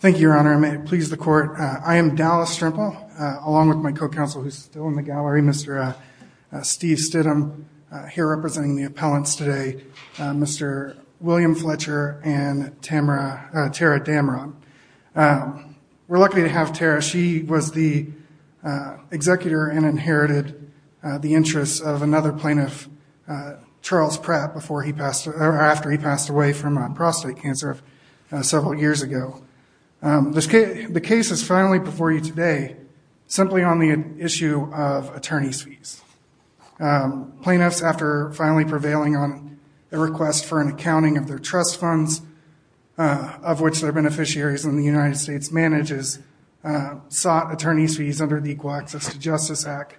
Thank you, Your Honor. I may please the court. I am Dallas Strimple, along with my co-counsel who's still in the gallery, Mr. Steve Stidham, here representing the appellants today, Mr. William Fletcher and Tara Dameron. We're lucky to have Tara. She was the executor and inherited the interests of another plaintiff, Charles Pratt, after he passed away from prostate cancer several years ago. The case is finally before you today simply on the issue of attorney's fees. Plaintiffs, after finally prevailing on the request for an accounting of their trust funds, of which their beneficiaries in the United States manages, sought attorney's fees under the Equal Access to Justice Act.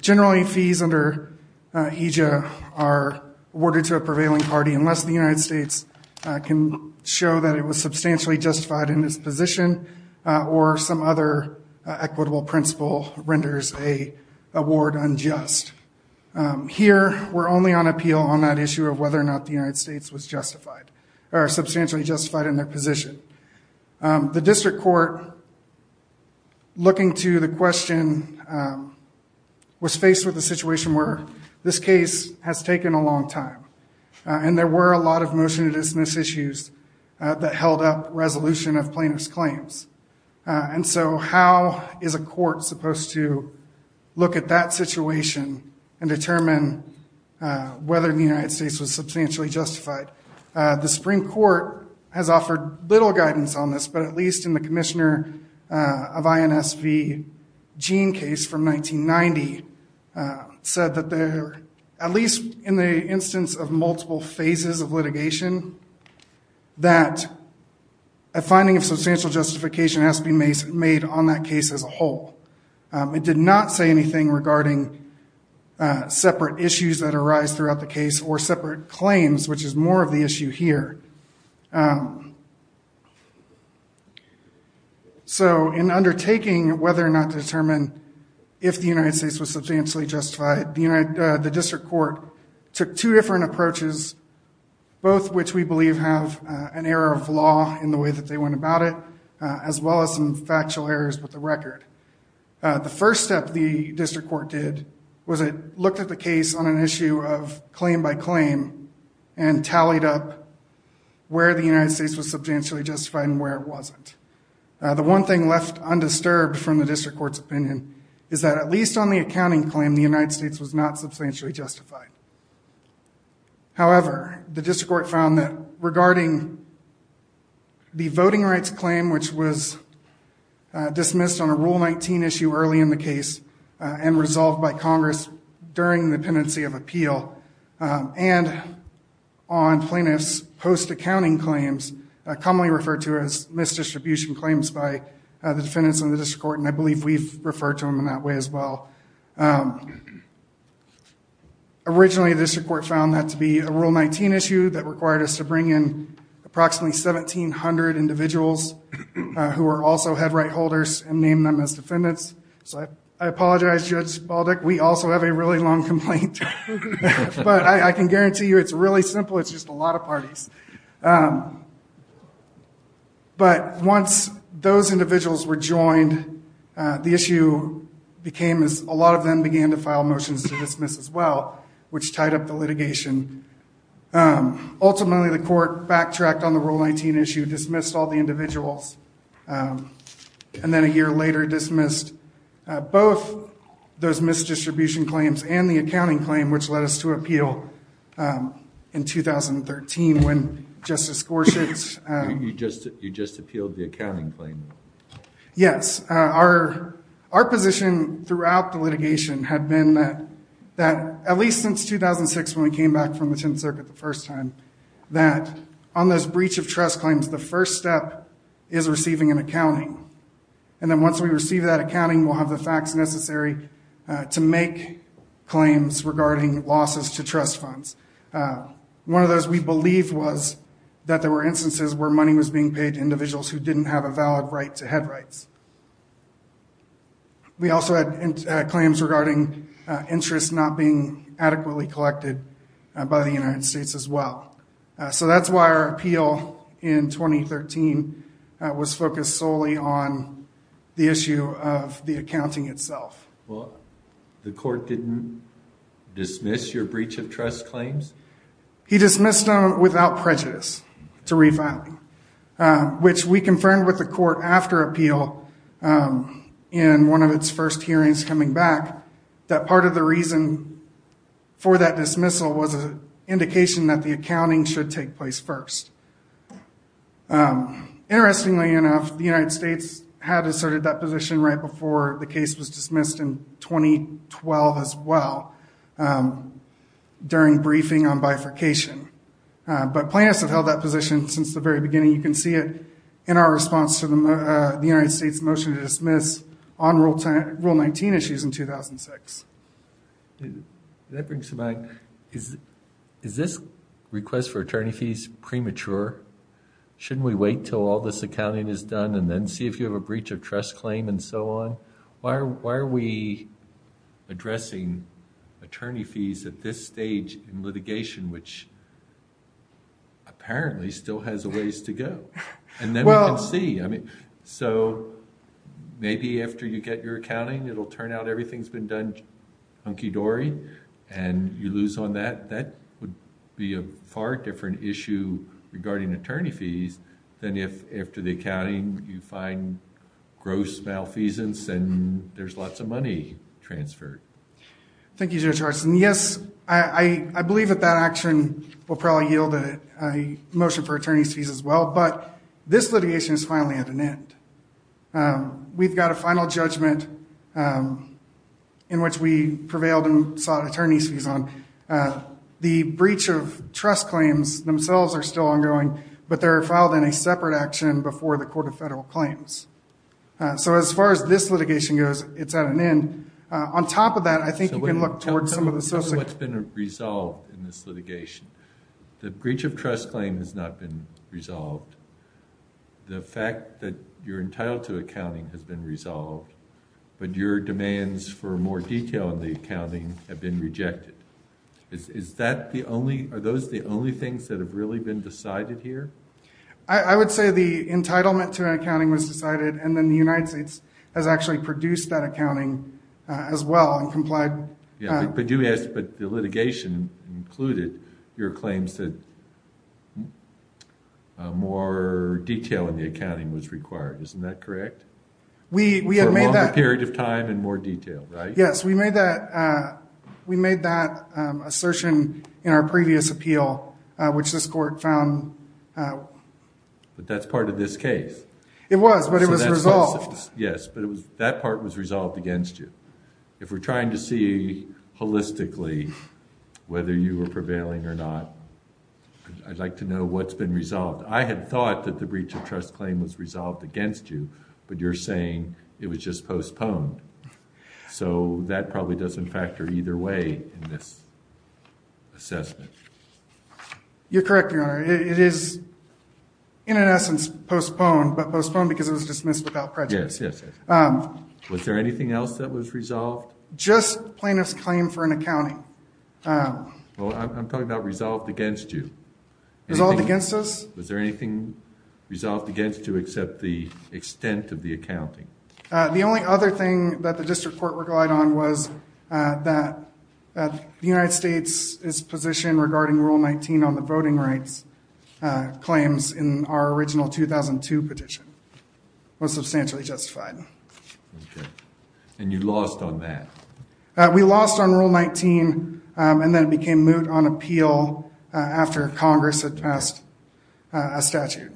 Generally, fees under EJIA are awarded to a prevailing party unless the United States can show that it was substantially justified in its position or some other equitable principle renders an award unjust. Here, we're only on appeal on that issue of whether or not the United States was justified or substantially justified in their position. The district court, looking to the question, was faced with a situation where this case has taken a long time and there were a lot of motion to dismiss issues that held up resolution of plaintiff's claims. How is a court supposed to look at that situation and determine whether the United States was substantially justified? The Supreme Court has offered little guidance on this, but at least in the Commissioner of INSV Gene case from 1990 said that there, at least in the instance of multiple phases of litigation, that a finding of substantial justification has to be made on that case as a whole. It did not say anything regarding separate issues that arise throughout the issue here. So, in undertaking whether or not to determine if the United States was substantially justified, the district court took two different approaches, both of which we believe have an error of law in the way that they went about it, as well as some factual errors with the record. The first step the district court did was it looked at the case on an issue of claim by claim and tallied up where the United States was substantially justified and where it wasn't. The one thing left undisturbed from the district court's opinion is that at least on the accounting claim, the United States was not substantially justified. However, the district court found that regarding the voting rights claim, which was dismissed on a Rule 19 issue early in the case and resolved by Congress during the contingency of appeal and on plaintiffs' post-accounting claims, commonly referred to as misdistribution claims by the defendants in the district court, and I believe we've referred to them in that way as well. Originally, the district court found that to be a Rule 19 issue that required us to bring in approximately 1,700 individuals who were also head right holders and named them as defendants. So, I apologize, Judge Baldick, we also have a really long complaint, but I can guarantee you it's really simple, it's just a lot of parties. But once those individuals were joined, the issue became as a lot of them began to file motions to dismiss as well, which tied up the litigation. Ultimately, the court backtracked on the Rule 19 issue, dismissed all the individuals, and then a year later dismissed both those misdistribution claims and the accounting claim, which led us to appeal in 2013 when Justice Gorsuch's... You just appealed the accounting claim. Yes. Our position throughout the litigation had been that at least since 2006 when we came back from the Tenth Circuit the first time, that on those breach of trust claims, the first step is receiving an accounting. And then once we receive that accounting, we'll have the facts necessary to make claims regarding losses to trust funds. One of those we believe was that there were instances where money was being paid to individuals who didn't have a valid right to head rights. We also had claims regarding interest not being adequately collected by the United States as well. So, that's why our appeal in 2013 was focused solely on the issue of the accounting itself. Well, the court didn't dismiss your breach of trust claims? He dismissed them without prejudice to re-filing, which we confirmed with the court after appeal in one of its first hearings coming back, that part of the reason for that dismissal was an indication that the accounting should take place first. Interestingly enough, the United States had asserted that position right before the case was dismissed in 2012 as well during briefing on bifurcation. But plaintiffs have held that position since the very beginning. You can see it in our response to the United States' motion to dismiss on Rule 19 issues in 2006. That brings to mind, is this request for attorney fees premature? Shouldn't we wait till all this accounting is done and then see if you have a breach of trust claim and so on? Why are we addressing attorney fees at this stage in litigation, which apparently still has a ways to go? And then we can see. So, maybe after you get your accounting, it'll turn out everything's been done hunky-dory and you lose on that. That would be a far different issue regarding attorney fees than if after the accounting, you find gross malfeasance and there's lots of money transferred. Thank you, Judge Hartson. Yes, I believe that that action will probably yield a motion for We've got a final judgment in which we prevailed and sought attorney's fees on. The breach of trust claims themselves are still ongoing, but they're filed in a separate action before the Court of Federal Claims. So, as far as this litigation goes, it's at an end. On top of that, I think you can look towards some of the social... So, what's been resolved in this litigation? The breach of trust claim has not been resolved. The fact that you're entitled to accounting has been resolved, but your demands for more detail on the accounting have been rejected. Are those the only things that have really been decided here? I would say the entitlement to accounting was decided and then the United States has actually produced that accounting as well and complied... But the litigation included your claims that more detail in the accounting was required. Isn't that correct? We have made that... For a longer period of time and more detail, right? Yes, we made that assertion in our previous appeal, which this court found... But that's part of this case. It was, but it was resolved. Yes, but that part was resolved against you. If we're trying to see holistically whether you were prevailing or not, I'd like to know what's been resolved. I had thought that the breach of trust claim was resolved against you, but you're saying it was just postponed. So, that probably doesn't factor either way in this assessment. You're correct, Your Honor. It is, in an essence, postponed, but postponed because it was dismissed without prejudice. Yes, yes, yes. Was there anything else that was resolved? Just plaintiff's claim for an accounting. Well, I'm talking about resolved against you. Resolved against us? Was there anything resolved against you except the extent of the accounting? The only other thing that the district court relied on was that the United States' position Okay. And you lost on that? We lost on Rule 19, and then it became moot on appeal after Congress had passed a statute.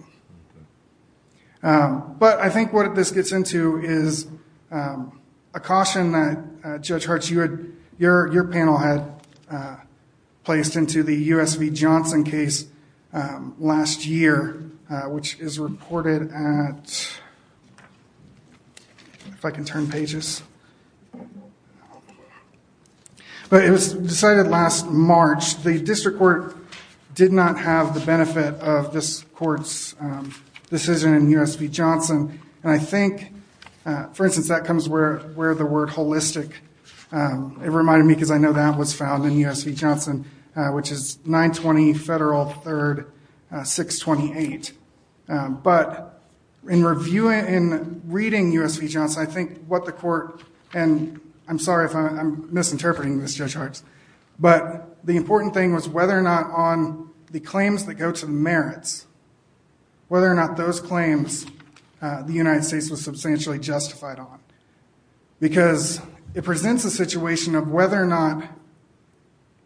But I think what this gets into is a caution that, Judge Hart, your panel had placed into the U.S. v. Johnson case last year, which is reported at, if I can turn pages, but it was decided last March. The district court did not have the benefit of this court's decision in U.S. v. Johnson, and I think, for instance, that comes where the word holistic, it reminded me because I know that was found in U.S. v. Johnson, which is 920 Federal 3rd 628. But in reviewing, in reading U.S. v. Johnson, I think what the court, and I'm sorry if I'm misinterpreting this, Judge Hart, but the important thing was whether or not on the claims that go to the merits, whether or not those claims the United States was substantially justified on. Because it presents a situation of whether or not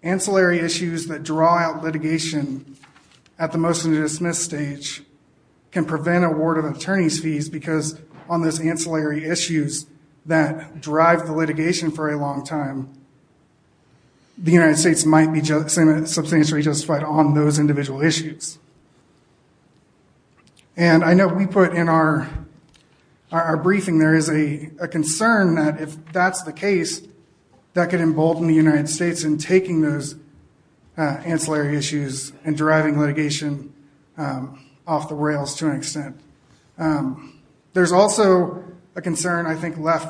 ancillary issues that draw out litigation at the motion to dismiss stage can prevent award of attorney's fees because on those ancillary issues that drive the litigation for a long time, the United States might be substantially justified on those individual issues. And I know we put in our briefing there is a concern that if that's the case, that could embolden the United States in taking those ancillary issues and driving litigation off the rails to an extent. There's also a number of cases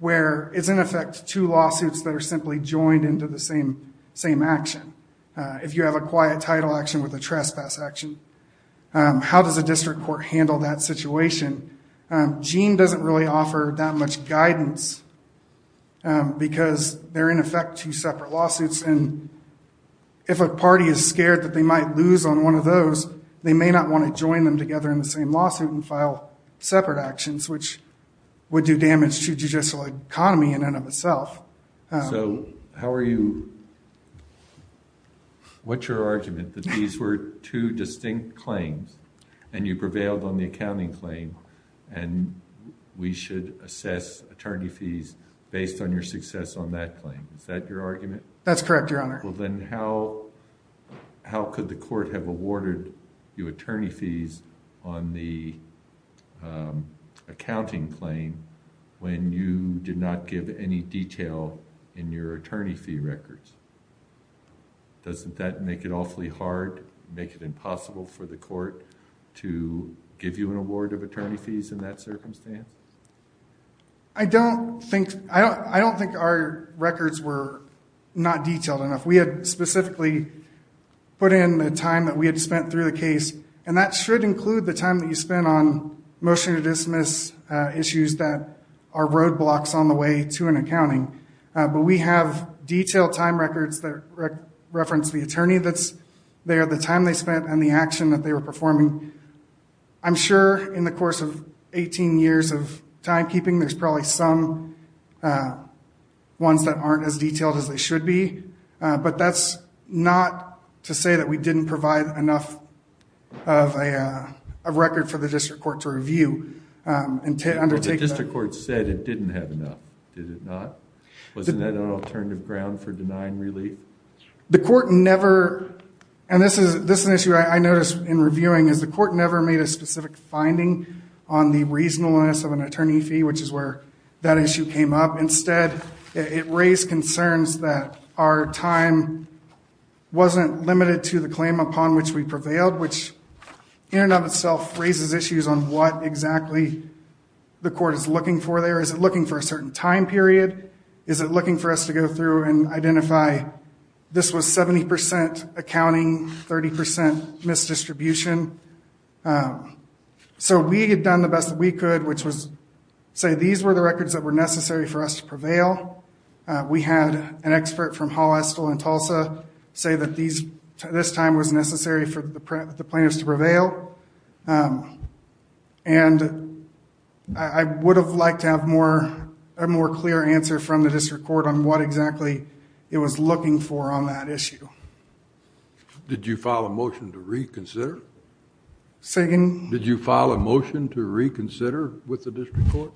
where it's in effect two lawsuits that are simply joined into the same action. If you have a quiet title action with a trespass action, how does a district court handle that situation? Jean doesn't really offer that much guidance because they're in effect two separate lawsuits. And if a party is scared that they might lose on one of those, they may not want to join them together in the same lawsuit and file separate actions, which would do damage to judicial economy in and of itself. So, how are you, what's your argument, that these were two distinct claims and you prevailed on the accounting claim and we should assess attorney fees based on your success on that claim? Is that your argument? That's correct, Your Honor. Well, then how could the court have awarded you attorney fees on the accounting claim when you did not give any detail in your attorney fee records? Doesn't that make it awfully hard, make it impossible for the court to give you an award of attorney fees in that circumstance? I don't think our records were not detailed enough. We had specifically put in the time that we had spent through the case, and that should include the time that you spent on motion to dismiss issues that are roadblocks on the way to an accounting. But we have detailed time records that reference the attorney that's there, the time they spent, and the action that they were performing. I'm sure in the course of 18 years of timekeeping, there's probably some ones that aren't as detailed as they should be, but that's not to say that we didn't provide enough of a record for the district court to review and to undertake that. The district court said it didn't have enough, did it not? Wasn't that an alternative ground for denying relief? The court never, and this is an issue I noticed in reviewing, is the court never made a specific finding on the reasonableness of an attorney fee, which is where that issue came up. Instead, it raised concerns that our time wasn't limited to the claim upon which we prevailed, which in and of itself raises issues on what exactly the court is looking for there. Is it looking for a certain time period? Is it looking for us to go through and identify this was 70% accounting, 30% misdistribution? We had done the best that we could, which was say these were the records that were necessary for us to prevail. We had an expert from Hall, Estill, and Tulsa say that this time was necessary for the plaintiffs to prevail. I would have liked to have a more clear answer from the district court on what exactly it was looking for on that issue. Did you file a motion to reconsider? Say again? Did you file a motion to reconsider with the district court?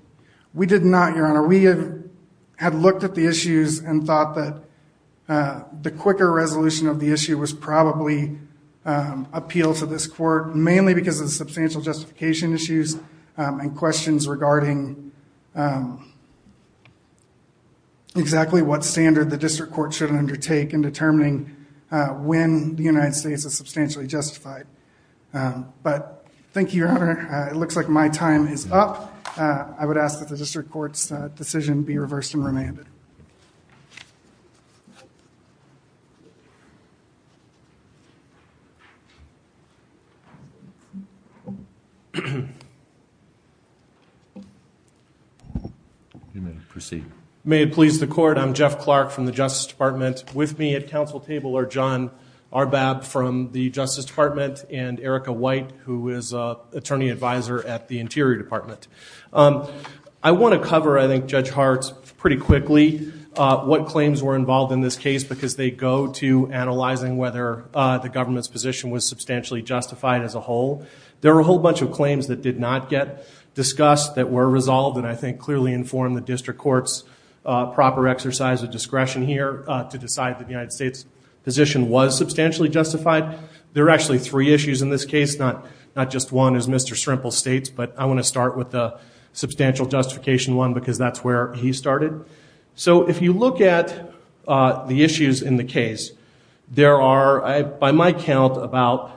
We did not, Your Honor. We had looked at the issues and thought that the quicker resolution of the issue was probably appeal to this court, mainly because of the substantial justification issues and questions regarding exactly what standard the district court should undertake in determining when the United States is substantially justified. But thank you, Your Honor. It looks like my time is up. I would ask that the district court's decision be reversed and remanded. You may proceed. May it please the court, I'm Jeff Clark from the Justice Department with me at council table are John Arbab from the Justice Department and Erica White, who is an attorney advisor at the Interior Department. I want to cover, I think, Judge Hart pretty quickly what claims were involved in this case because they go to analyzing whether the government's position was substantially justified as a whole. There were a whole bunch of claims that did not get discussed that were resolved and I think clearly informed the district court's proper exercise of discretion here to decide that the United States' position was substantially justified. There are actually three issues in this case, not just one, as Mr. Shrimple states, but I want to start with the substantial justification one because that's where he started. If you look at the issues in the case, there are, by my count, about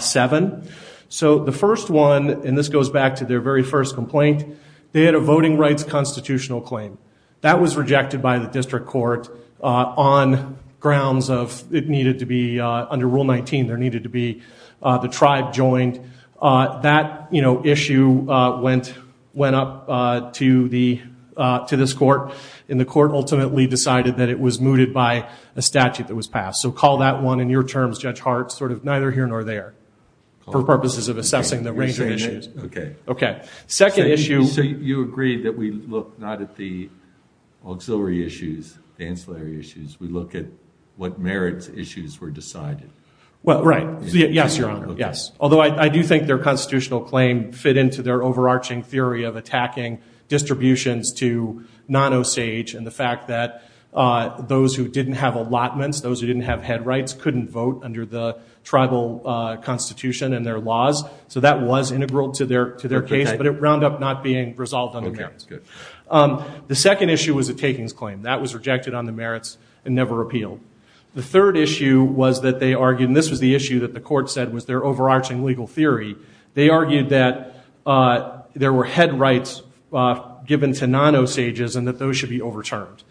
seven. The first one, and this goes back to their very first complaint, they had a voting rights constitutional claim. That was rejected by the district court on grounds of it needed to be under Rule 19. There needed to be the tribe joined. That issue went up to this court and the court ultimately decided that it was mooted by a statute that was passed. So call that one, in your terms, Judge Hart, sort of neither here nor there for purposes of assessing the range of issues. Okay. Second issue... So you agree that we look not at the auxiliary issues, the ancillary issues. We look at what merits issues were decided. Well, right. Yes, Your Honor. Yes. Although I do think their constitutional claim fit into their overarching theory of attacking distributions to non-Osage and the fact that those who didn't have allotments, those who didn't have head rights, couldn't vote under the tribal constitution and their laws. So that was integral to their case, but it wound up not being resolved on the merits. Okay. Good. The second issue was a takings claim. That was rejected on the merits and never appealed. The third issue was that they argued, and this was the issue that the court said was their overarching legal theory. They argued that there were head rights given to non-Osages and that those should be overturned.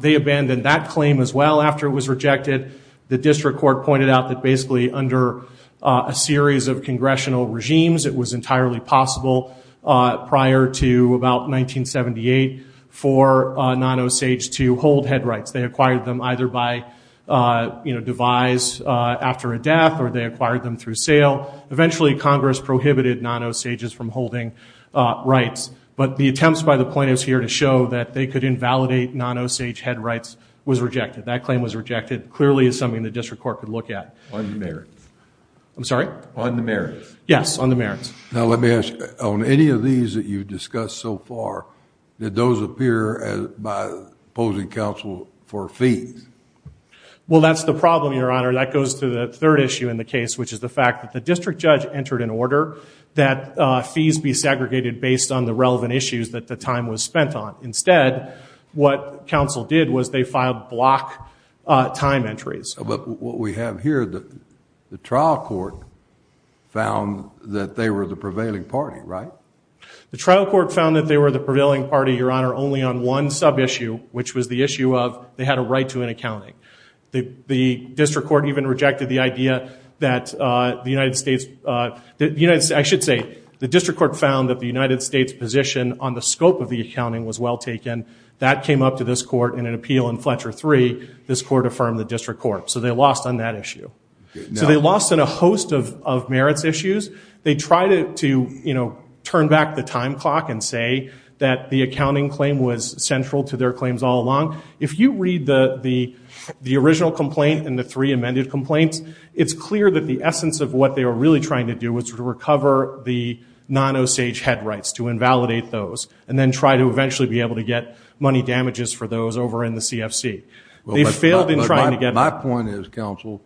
They abandoned that claim as well after it was rejected. The district court pointed out that basically under a series of congressional regimes, it was entirely possible prior to about 1978 for non-Osage to hold head rights. They acquired them either by devise after a death or they acquired them through sale. Eventually, Congress prohibited non-Osages from holding rights. But the attempts by the plaintiffs here to show that they could invalidate non-Osage head rights was rejected. That claim was rejected. Clearly, it's something the district court could look at. On the merits. I'm sorry? On the merits. Yes, on the merits. Now, let me ask you. On any of these that you've discussed so far, did those appear by opposing counsel for fees? Well, that's the problem, Your Honor. That goes to the third issue in the case, which is the fact that the district judge entered an order that fees be segregated based on the relevant issues that the time was spent on. Instead, what counsel did was they filed block time entries. But what we have here, the trial court found that they were the prevailing party, right? The trial court found that they were the prevailing party, Your Honor, only on one sub-issue, which was the issue of they had a right to an accounting. The district court even rejected the idea that the United States – I should say the district court found that the United States position on the scope of the accounting was well taken. That came up to this court in an appeal in Fletcher III. This court affirmed the district court. So they lost on that issue. So they lost on a host of merits issues. They tried to turn back the time clock and say that the accounting claim was central to their claims all along. If you read the original complaint and the three amended complaints, it's clear that the essence of what they were really trying to do was to recover the non-Osage head rights, to invalidate those, and then try to eventually be able to get money damages for those over in the CFC. They failed in trying to get – My point is, counsel,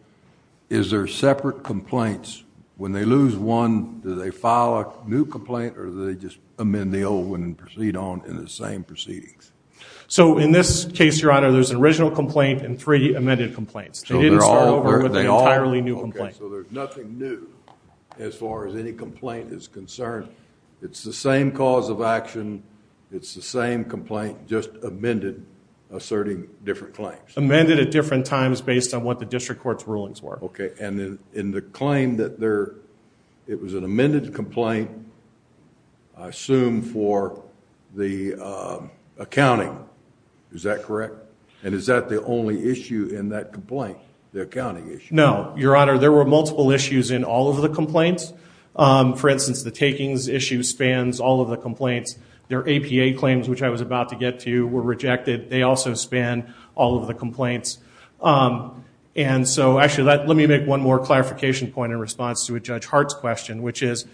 is there separate complaints? When they lose one, do they file a new complaint, or do they just amend the old one and proceed on in the same proceedings? So in this case, Your Honor, there's an original complaint and three amended complaints. They didn't start over with an entirely new complaint. Okay. So there's nothing new as far as any complaint is concerned. It's the same cause of action. It's the same complaint, just amended, asserting different claims. Amended at different times based on what the district court's rulings were. Okay. And in the claim that there – it was an amended complaint, I assume, for the accounting. Is that correct? And is that the only issue in that complaint, the accounting issue? No. Your Honor, there were multiple issues in all of the complaints. For instance, the takings issue spans all of the complaints. Their APA claims, which I was about to get to, were rejected. They also span all of the complaints. And so, actually, let me make one more clarification point in response to Judge Hart's question, which is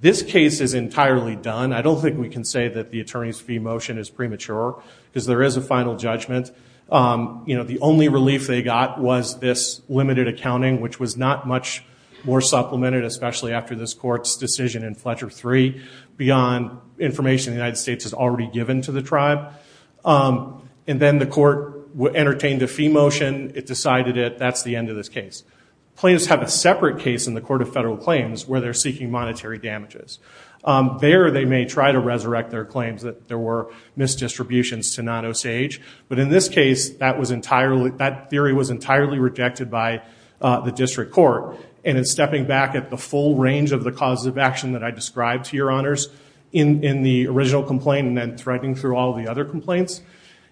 this case is entirely done. I don't think we can say that the attorney's fee motion is premature because there is a final judgment. You know, the only relief they got was this limited accounting, which was not much more supplemented, especially after this court's decision in Fletcher III, beyond information the United States has already given to the tribe. And then the court entertained a fee motion. It decided that that's the end of this case. Plaintiffs have a separate case in the Court of Federal Claims where they're seeking monetary damages. There they may try to resurrect their claims that there were misdistributions to not Osage. But in this case, that theory was entirely rejected by the district court. And in stepping back at the full range of the causes of action that I described to your honors in the original complaint and then threading through all the other complaints,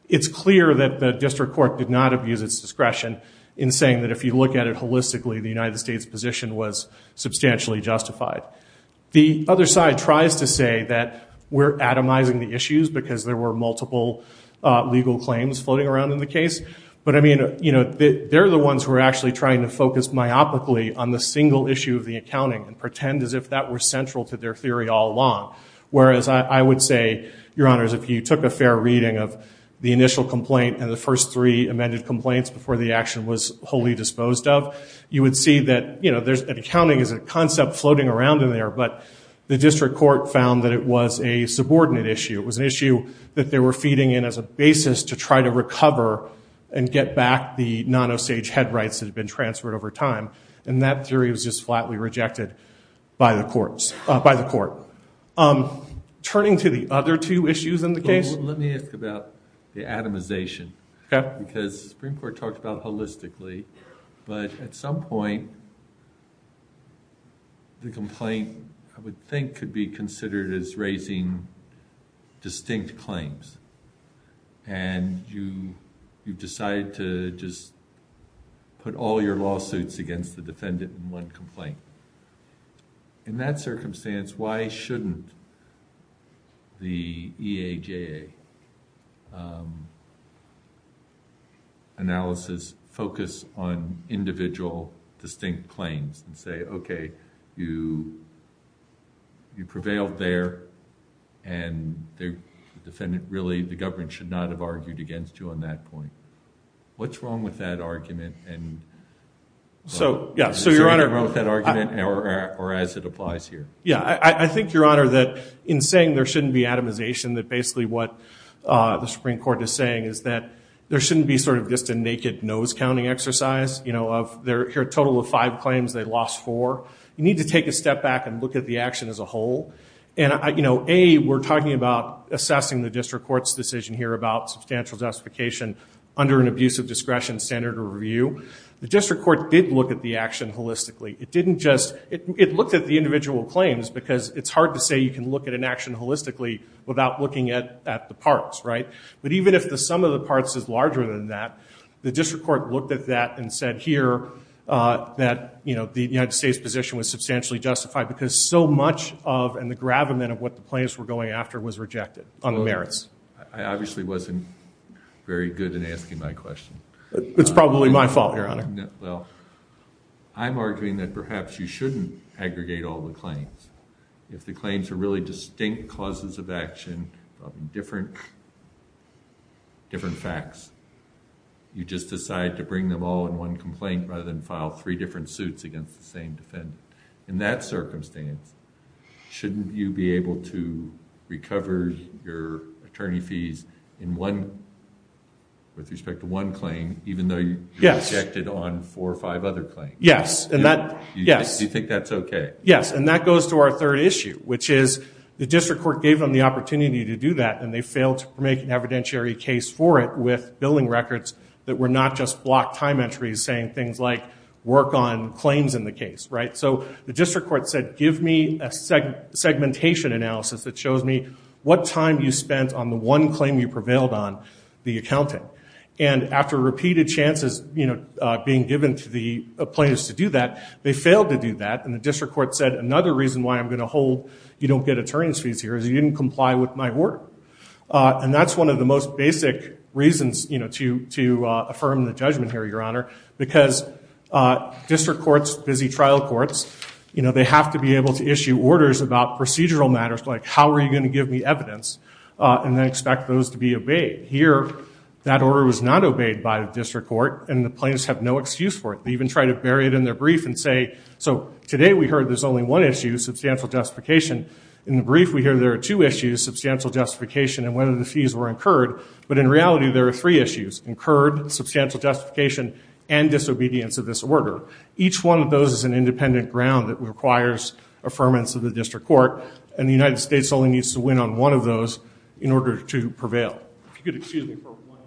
it's clear that the district court did not abuse its discretion in saying that if you look at it holistically, the United States' position was substantially justified. The other side tries to say that we're atomizing the issues because there were multiple legal claims floating around in the case. But, I mean, you know, they're the ones who are actually trying to focus myopically on the single issue of the accounting and pretend as if that were central to their theory all along. Whereas I would say, your honors, if you took a fair reading of the initial complaint and the first three amended complaints before the action was wholly disposed of, you would see that accounting is a concept floating around in there. But the district court found that it was a subordinate issue. It was an issue that they were feeding in as a basis to try to recover and get back the non-Osage head rights that had been transferred over time. And that theory was just flatly rejected by the court. Turning to the other two issues in the case. Let me ask about the atomization. Because the Supreme Court talked about holistically. But at some point, the complaint, I would think, could be considered as raising distinct claims. And you've decided to just put all your lawsuits against the defendant in one complaint. In that circumstance, why shouldn't the EAJA analysis focus on individual distinct claims and say, okay, you prevailed there and the defendant really, the government, should not have argued against you on that point. What's wrong with that argument? So, yeah. So, Your Honor. Or as it applies here. Yeah. I think, Your Honor, that in saying there shouldn't be atomization, that basically what the Supreme Court is saying is that there shouldn't be sort of just a naked nose-counting exercise. You know, of their total of five claims, they lost four. You need to take a step back and look at the action as a whole. And, you know, A, we're talking about assessing the district court's decision here about substantial justification under an abusive discretion standard of review. The district court did look at the action holistically. It didn't just – it looked at the individual claims because it's hard to say you can look at an action holistically without looking at the parts, right? But even if the sum of the parts is larger than that, the district court looked at that and said here that, you know, the United States position was substantially justified because so much of and the gravamen of what the plaintiffs were going after was rejected on the merits. I obviously wasn't very good in asking my question. It's probably my fault, Your Honor. Well, I'm arguing that perhaps you shouldn't aggregate all the claims. If the claims are really distinct causes of action, different facts, you just decide to bring them all in one complaint rather than file three different suits against the same defendant. In that circumstance, shouldn't you be able to recover your attorney fees in one – with respect to one claim even though you rejected on four or five other claims? Yes. Do you think that's okay? Yes, and that goes to our third issue, which is the district court gave them the opportunity to do that and they failed to make an evidentiary case for it with billing records that were not just block time entries saying things like work on claims in the case, right? So the district court said give me a segmentation analysis that shows me what time you spent on the one claim you prevailed on, the accounting. And after repeated chances, you know, being given to the plaintiffs to do that, they failed to do that and the district court said another reason why I'm going to hold you don't get attorney's fees here is you didn't comply with my work. And that's one of the most basic reasons to affirm the judgment here, Your Honor, because district courts, busy trial courts, they have to be able to issue orders about procedural matters like how are you going to give me evidence and then expect those to be obeyed. Here, that order was not obeyed by the district court and the plaintiffs have no excuse for it. They even try to bury it in their brief and say, so today we heard there's only one issue, substantial justification. In the brief, we hear there are two issues, substantial justification and whether the fees were incurred. But in reality, there are three issues, incurred, substantial justification, and disobedience of this order. Each one of those is an independent ground that requires affirmance of the district court and the United States only needs to win on one of those in order to prevail. If you could excuse me for one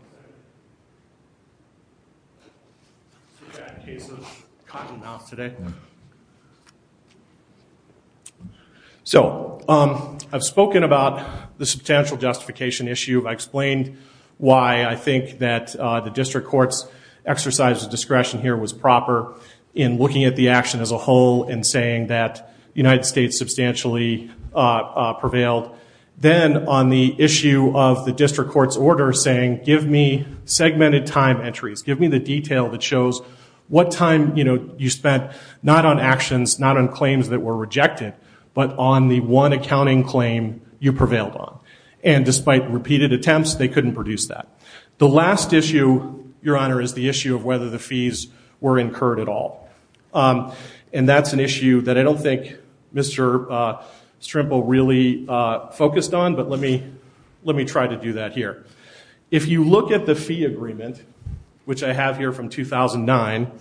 second. In case of cotton mouth today. So I've spoken about the substantial justification issue. I explained why I think that the district court's exercise of discretion here was proper in looking at the action as a whole and saying that the United States substantially prevailed. Then on the issue of the district court's order saying, give me segmented time entries. Give me the detail that shows what time you spent not on actions, not on claims that were rejected, but on the one accounting claim you prevailed on. And despite repeated attempts, they couldn't produce that. The last issue, Your Honor, is the issue of whether the fees were incurred at all. And that's an issue that I don't think Mr. Strimple really focused on, but let me try to do that here. If you look at the fee agreement, which I have here from 2009,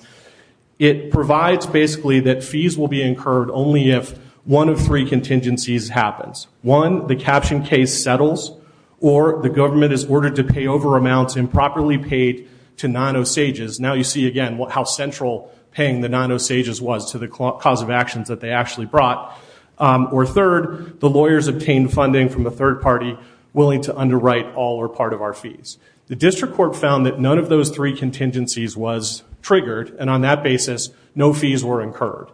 it provides basically that fees will be incurred only if one of three contingencies happens. One, the caption case settles, or the government is ordered to pay over amounts improperly paid to non-Osages. Now you see again how central paying the non-Osages was to the cause of actions that they actually brought. Or third, the lawyers obtained funding from a third party willing to underwrite all or part of our fees. The district court found that none of those three contingencies was triggered, and on that basis, no fees were incurred.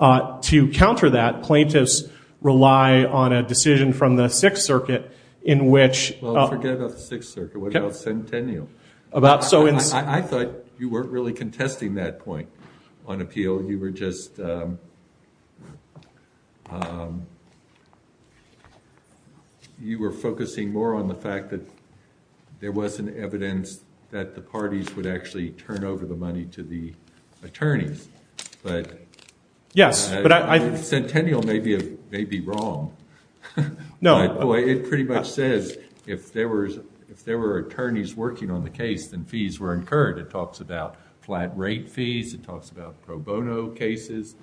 To counter that, plaintiffs rely on a decision from the Sixth Circuit in which- Well, forget about the Sixth Circuit. What about Centennial? I thought you weren't really contesting that point on appeal. You were just- You were focusing more on the fact that there wasn't evidence that the parties would actually turn over the money to the attorneys. Yes, but I- Centennial may be wrong. No. It pretty much says if there were attorneys working on the case, then fees were incurred. It talks about flat rate fees. It talks about pro bono cases.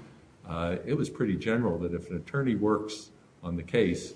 It was pretty general that if an attorney works on the case,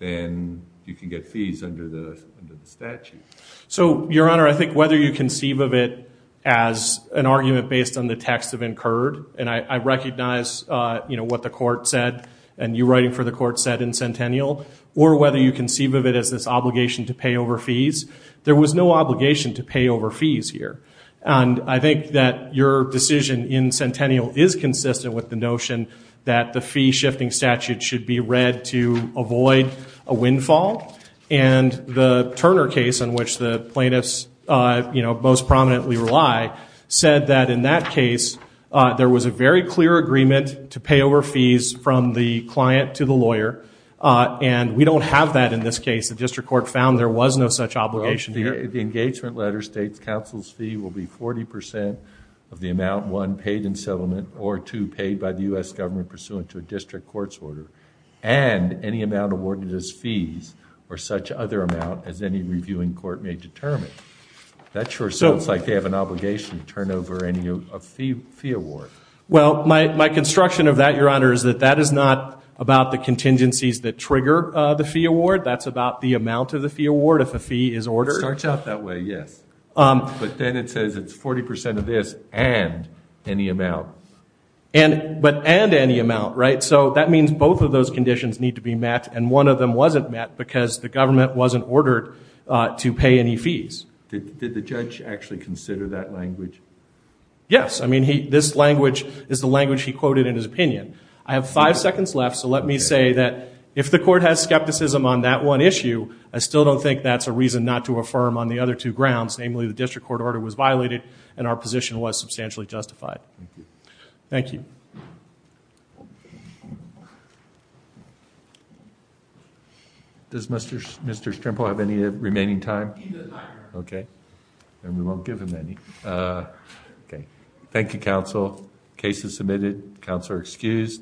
then you can get fees under the statute. So, Your Honor, I think whether you conceive of it as an argument based on the text of incurred, and I recognize what the court said, and you writing for the court said in Centennial, or whether you conceive of it as this obligation to pay over fees, there was no obligation to pay over fees here. And I think that your decision in Centennial is consistent with the notion that the fee-shifting statute should be read to avoid a windfall. And the Turner case, in which the plaintiffs most prominently rely, said that in that case, there was a very clear agreement to pay over fees from the client to the lawyer, and we don't have that in this case. The district court found there was no such obligation here. The engagement letter states counsel's fee will be 40% of the amount, one, paid in settlement, or two, paid by the U.S. government pursuant to a district court's order, and any amount awarded as fees, or such other amount as any reviewing court may determine. That sure sounds like they have an obligation to turn over any fee award. Well, my construction of that, Your Honor, is that that is not about the contingencies that trigger the fee award. That's about the amount of the fee award, if a fee is ordered. It starts out that way, yes. But then it says it's 40% of this and any amount. But and any amount, right? So that means both of those conditions need to be met, and one of them wasn't met because the government wasn't ordered to pay any fees. Did the judge actually consider that language? Yes. I mean, this language is the language he quoted in his opinion. I have five seconds left, so let me say that if the court has skepticism on that one issue, I still don't think that's a reason not to affirm on the other two grounds, namely the district court order was violated and our position was substantially justified. Thank you. Does Mr. Strimple have any remaining time? He does not. Okay. Then we won't give him any. Okay. Thank you, counsel. Case is submitted. Counsel are excused.